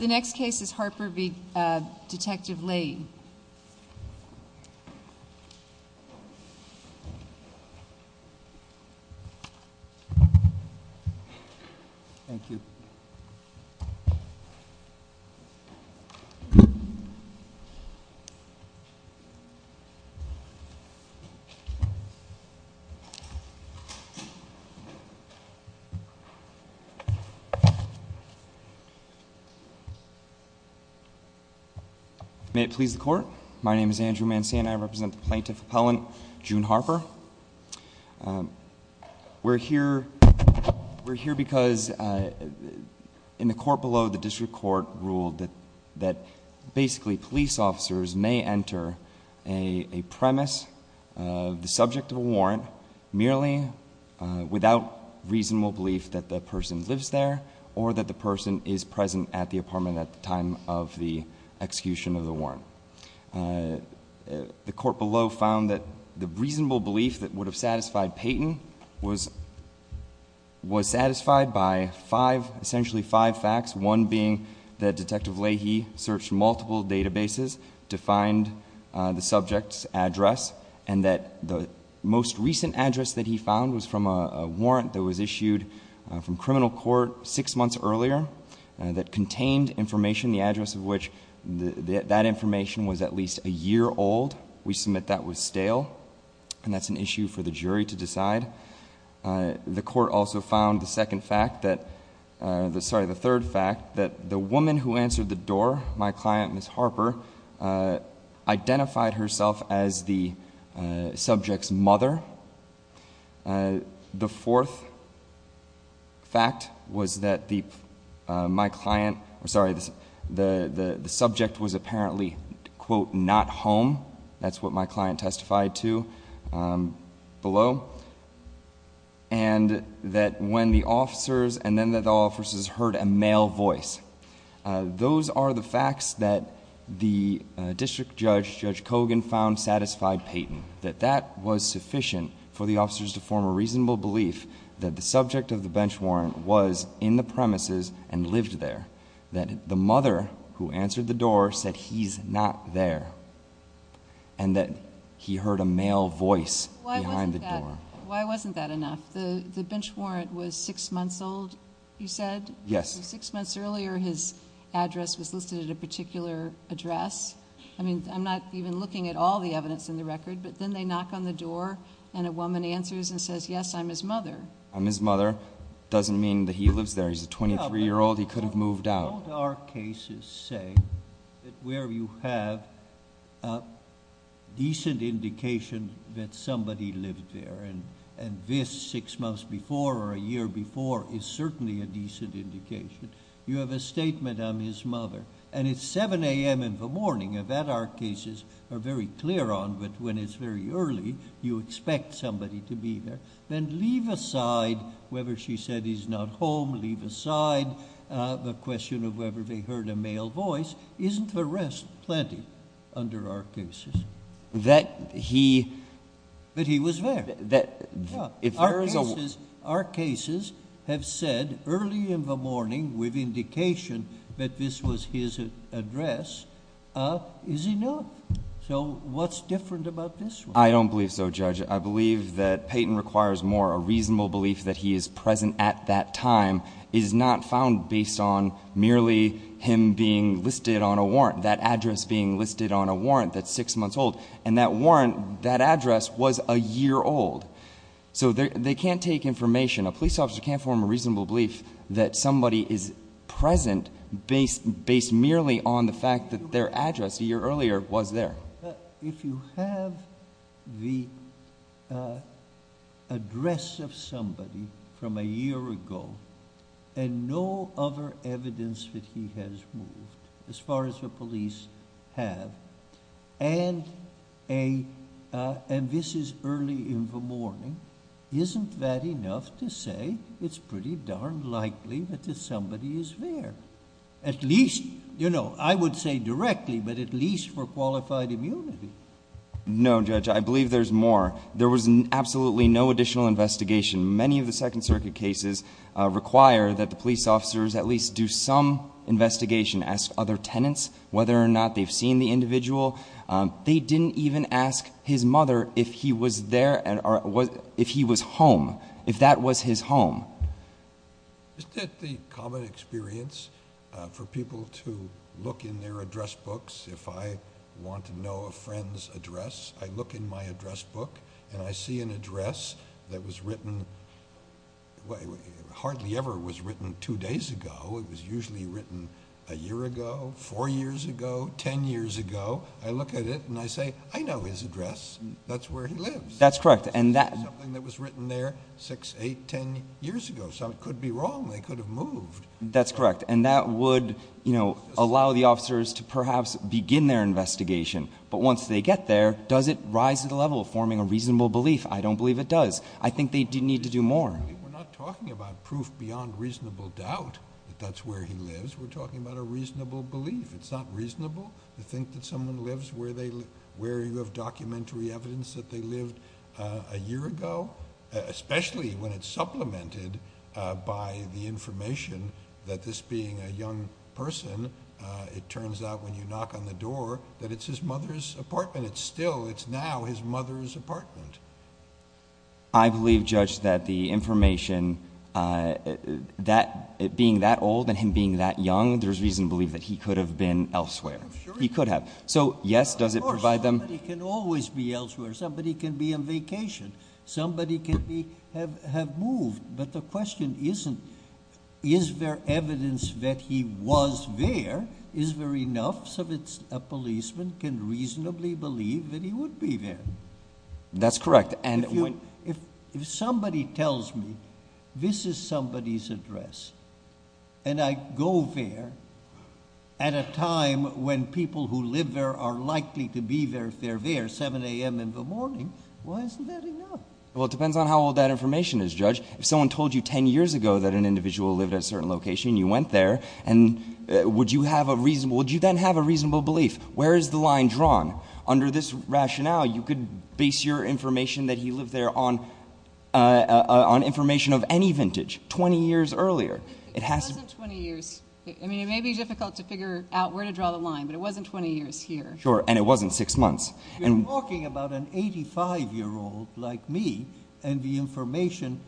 The next case is Harper v. Detective Leahy. Andrew Mancini May it please the court, my name is Andrew Mancini and I represent the plaintiff appellant June Harper. We're here because in the court below the district court ruled that basically police officers may enter a premise of the subject of a warrant merely without reasonable belief that the person lives there or that the person is present at the apartment at the time of the execution of the warrant. The court below found that the reasonable belief that would have satisfied Payton was satisfied by five, essentially five facts, one being that Detective Leahy searched multiple databases to find the subject's address and that the most recent address that he found was from a warrant that was issued from criminal court six months earlier that contained information, the address of which that information was at least a year old. We submit that was stale and that's an issue for the jury to decide. The court also found the second fact that, sorry, the third fact that the woman who answered the door, my client Ms. Harper, identified herself as the subject's mother. The fourth fact was that my client, sorry, the subject was apparently, quote, not home. That's what my client testified to below. And that when the officers and then that the officers heard a male voice, those are the facts that the district judge, Judge Kogan, found satisfied Payton, that that was sufficient for the officers to form a reasonable belief that the subject of the bench warrant was in the premises and lived there. That the mother who answered the door said he's not there and that he heard a male voice behind the door. Why wasn't that enough? The bench warrant was six months old, you said? Yes. Six months earlier, his address was listed at a particular address. I mean, I'm not even looking at all the evidence in the record, but then they knock on the door and a woman answers and says, yes, I'm his mother. I'm his mother. It doesn't mean that he lives there. He's a 23-year-old. He could have moved out. Don't our cases say that where you have a decent indication that somebody lived there and this six months before or a year before is certainly a decent indication, you have a statement, I'm his mother, and it's 7 a.m. in the morning and that our cases are very clear on, but when it's very early, you expect somebody to be there, then leave aside whether she said he's not home, leave aside the question of whether they heard a male voice. Isn't the rest plenty under our cases? That he... That he was there. Our cases have said early in the morning with indication that this was his address is enough. So what's different about this one? I don't believe so, Judge. I believe that Peyton requires more. A reasonable belief that he is present at that time is not found based on merely him being listed on a warrant, that address being listed on a warrant that's six months old, and that warrant, that address was a year old. So they can't take information, a police officer can't form a reasonable belief that somebody is present based merely on the fact that their address a year earlier was there. If you have the address of somebody from a year ago and no other evidence that he has moved as far as the police have, and this is early in the morning, isn't that enough to say it's pretty darn likely that somebody is there? At least, you know, I would say directly, but at least for qualified immunity. No, Judge, I believe there's more. There was absolutely no additional investigation. Many of the Second Circuit cases require that the police officers at least do some investigation, ask other tenants whether or not they've seen the individual. They didn't even ask his mother if he was there, or if he was home, if that was his home. Isn't it the common experience for people to look in their address books, if I want to know a friend's address, I look in my address book and I see an address that was written, hardly ever was written two days ago, it was usually written a year ago, four years ago, ten years ago, I look at it and I say, I know his address, that's where he lives. That's correct. Something that was written there six, eight, ten years ago, so it could be wrong, they could have moved. That's correct. And that would, you know, allow the officers to perhaps begin their investigation, but once they get there, does it rise to the level of forming a reasonable belief? I don't believe it does. I think they need to do more. We're not talking about proof beyond reasonable doubt that that's where he lives, we're talking about a reasonable belief. It's not reasonable to think that someone lives where you have documentary evidence that they lived a year ago, especially when it's supplemented by the information that this being a young person, it turns out when you knock on the door that it's his mother's apartment. It's still, it's now his mother's apartment. I believe, Judge, that the information, that being that old and him being that young, there's reason to believe that he could have been elsewhere. He could have. So, yes, does it provide them... Somebody can always be elsewhere. Somebody can be on vacation. Somebody can be, have moved, but the question isn't, is there evidence that he was there? Is there enough so that a policeman can reasonably believe that he would be there? That's correct. And when... If somebody tells me, this is somebody's address, and I go there at a time when people who live there are likely to be there if they're there, 7 a.m. in the morning, well, isn't that enough? Well, it depends on how old that information is, Judge. If someone told you 10 years ago that an individual lived at a certain location, you went there, and would you have a reasonable, would you then have a reasonable belief? Where is the line drawn? Under this rationale, you could base your information that he lived there on information of any vintage, 20 years earlier. It has to... It wasn't 20 years. I mean, it may be difficult to figure out where to draw the line, but it wasn't 20 years here. Sure. And it wasn't 6 months. If you're talking about an 85-year-old like me, and the information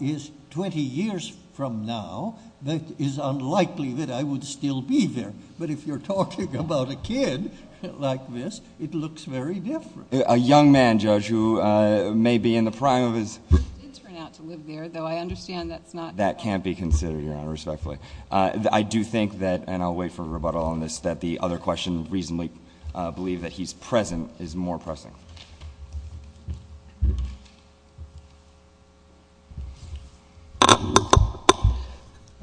is 20 years from now, that is unlikely that I would still be there. But if you're talking about a kid like this, it looks very different. A young man, Judge, who may be in the prime of his... He did turn out to live there, though I understand that's not... That can't be considered, Your Honor, respectfully. I do think that, and I'll wait for rebuttal on this, that the other question reasonably believe that he's present is more pressing.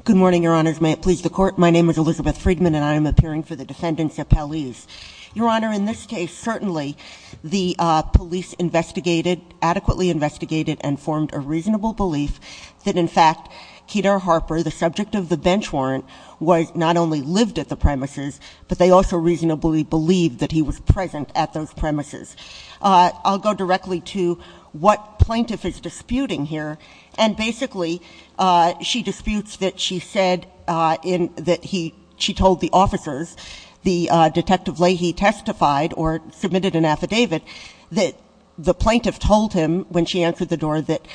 Good morning, Your Honors. May it please the Court. My name is Elizabeth Friedman, and I am appearing for the defendants' appellees. Your Honor, in this case, certainly, the police investigated, adequately investigated, and formed a reasonable belief that, in fact, Keeter Harper, the subject of the bench warrant, was not only lived at the premises, but they also reasonably believed that he was present at those premises. I'll go directly to what plaintiff is disputing here. And basically, she disputes that she said in — that he — she told the officers, the Detective Leahy testified, or submitted an affidavit, that the plaintiff told him when she answered the door that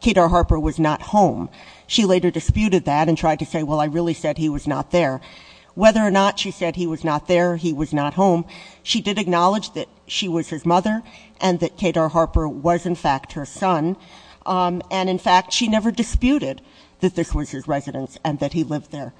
Keeter Harper was not home. She later disputed that and tried to say, well, I really said he was not there. Whether or not she said he was not there, he was not home, she did acknowledge that she was his mother and that Keeter Harper was, in fact, her son. And in fact, she never disputed that this was his residence and that he lived there.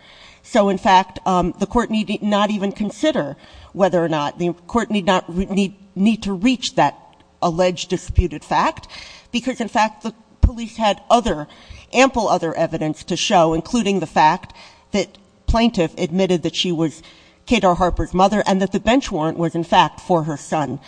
So in fact, the Court need not even consider whether or not — the Court need not — need to reach that alleged disputed fact because, in fact, the police had other — ample other evidence to show, including the fact that plaintiff admitted that she was Keeter Harper's mother and that the bench warrant was, in fact, for her son.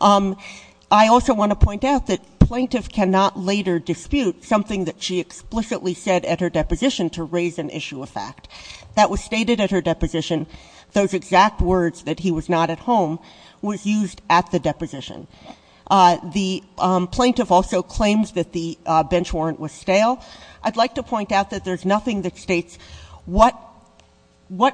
I also want to point out that plaintiff cannot later dispute something that she explicitly said at her deposition to raise an issue of fact. That was stated at her deposition. Those exact words, that he was not at home, was used at the deposition. The plaintiff also claims that the bench warrant was stale. I'd like to point out that there's nothing that states what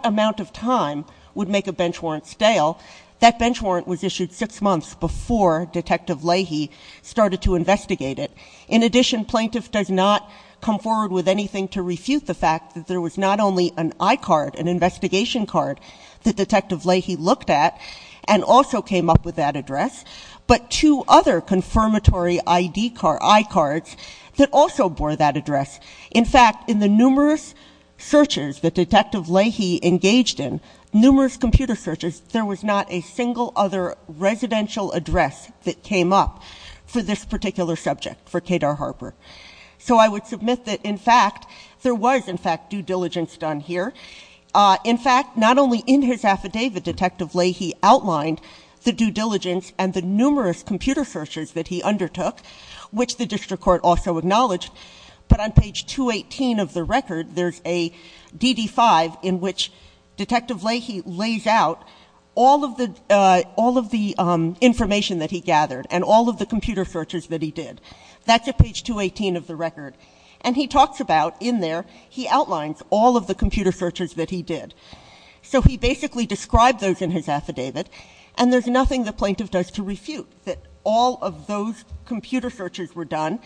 amount of time would make a bench warrant stale. That bench warrant was issued six months before Detective Leahy started to investigate it. In addition, plaintiff does not come forward with anything to refute the fact that there was not only an I-card, an investigation card, that Detective Leahy looked at and also came up with that address, but two other confirmatory I-cards that also bore that address. In fact, in the numerous searches that Detective Leahy engaged in, numerous computer searches, there was not a single other residential address that came up for this particular subject, for Keeter Harper. So I would submit that in fact, there was in fact due diligence done here. In fact, not only in his affidavit, Detective Leahy outlined the due diligence and the numerous computer searches that he undertook, which the district court also acknowledged. But on page 218 of the record, there's a DD5 in which Detective Leahy lays out all of the information that he gathered and all of the computer searches that he did. That's at page 218 of the record. And he talks about, in there, he outlines all of the computer searches that he did. So he basically described those in his affidavit. And there's nothing the plaintiff does to refute that all of those computer searches were done.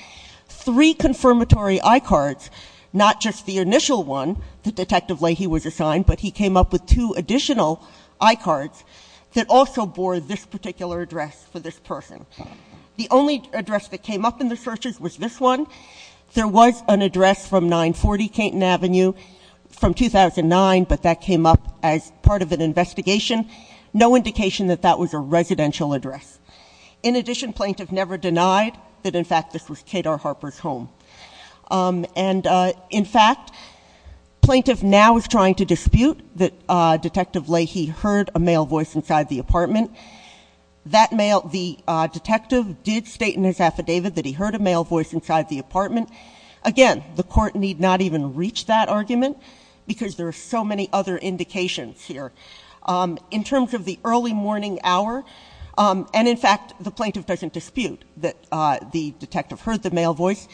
Three confirmatory I-cards, not just the initial one that Detective Leahy was assigned, but he came up with two additional I-cards that also bore this particular address for this person. The only address that came up in the searches was this one. There was an address from 940 Cainton Avenue from 2009, but that came up as part of an investigation. No indication that that was a residential address. In addition, plaintiff never denied that in fact, this was Keeter Harper's home. And in fact, plaintiff now is trying to dispute that Detective Leahy heard a male voice inside the apartment. That male, the detective did state in his affidavit that he heard a male voice inside the apartment. Again, the court need not even reach that argument because there are so many other indications here. In terms of the early morning hour, and in fact, the plaintiff doesn't dispute that the detective heard the male voice.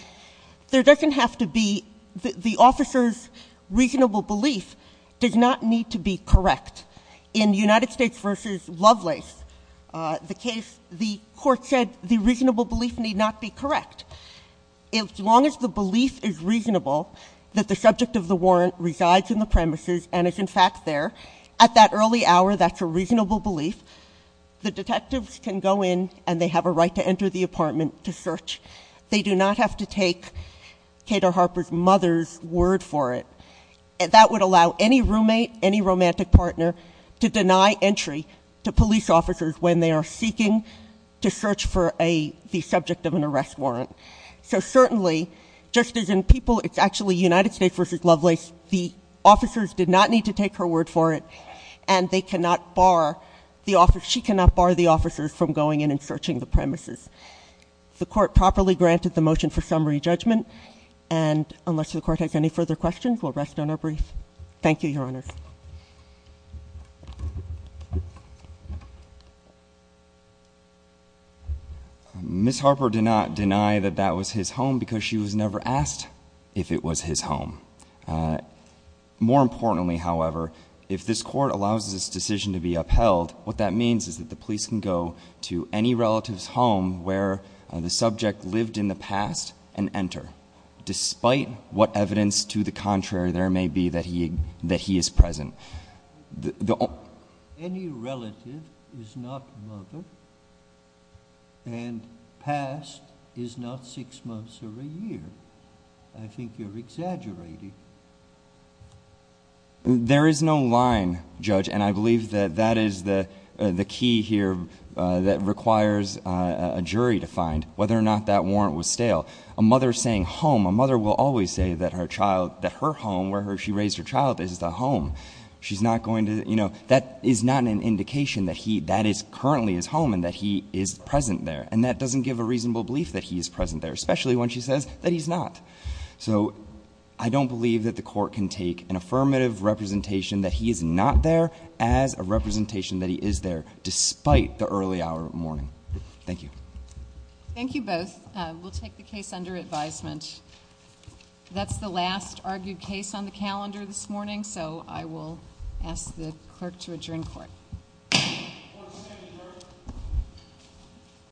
There doesn't have to be, the officer's reasonable belief does not need to be correct. In United States versus Lovelace, the case, the court said the reasonable belief need not be correct. As long as the belief is reasonable, that the subject of the warrant resides in the premises and is in fact there, at that early hour, that's a reasonable belief. The detectives can go in and they have a right to enter the apartment to search. They do not have to take Keeter Harper's mother's word for it. That would allow any roommate, any romantic partner, to deny entry to police officers when they are seeking to search for the subject of an arrest warrant. So certainly, just as in people, it's actually United States versus Lovelace. The officers did not need to take her word for it. And they cannot bar, she cannot bar the officers from going in and searching the premises. The court properly granted the motion for summary judgment. And unless the court has any further questions, we'll rest on our brief. Thank you, your honor. Ms. Harper did not deny that that was his home because she was never asked if it was his home. More importantly, however, if this court allows this decision to be upheld, what that means is that the police can go to any relative's home where the subject lived in the past and enter. Despite what evidence to the contrary there may be that he is present. Any relative is not mother, and past is not six months or a year. I think you're exaggerating. There is no line, Judge, and I believe that that is the key here that requires a jury to find whether or not that warrant was stale. A mother saying home, a mother will always say that her home where she raised her child is the home. She's not going to, that is not an indication that he, that is currently his home and that he is present there. And that doesn't give a reasonable belief that he is present there, especially when she says that he's not. So I don't believe that the court can take an affirmative representation that he is not there as a representation that he is there despite the early hour morning. Thank you. Thank you both. We'll take the case under advisement. That's the last argued case on the calendar this morning, so I will ask the clerk to adjourn court.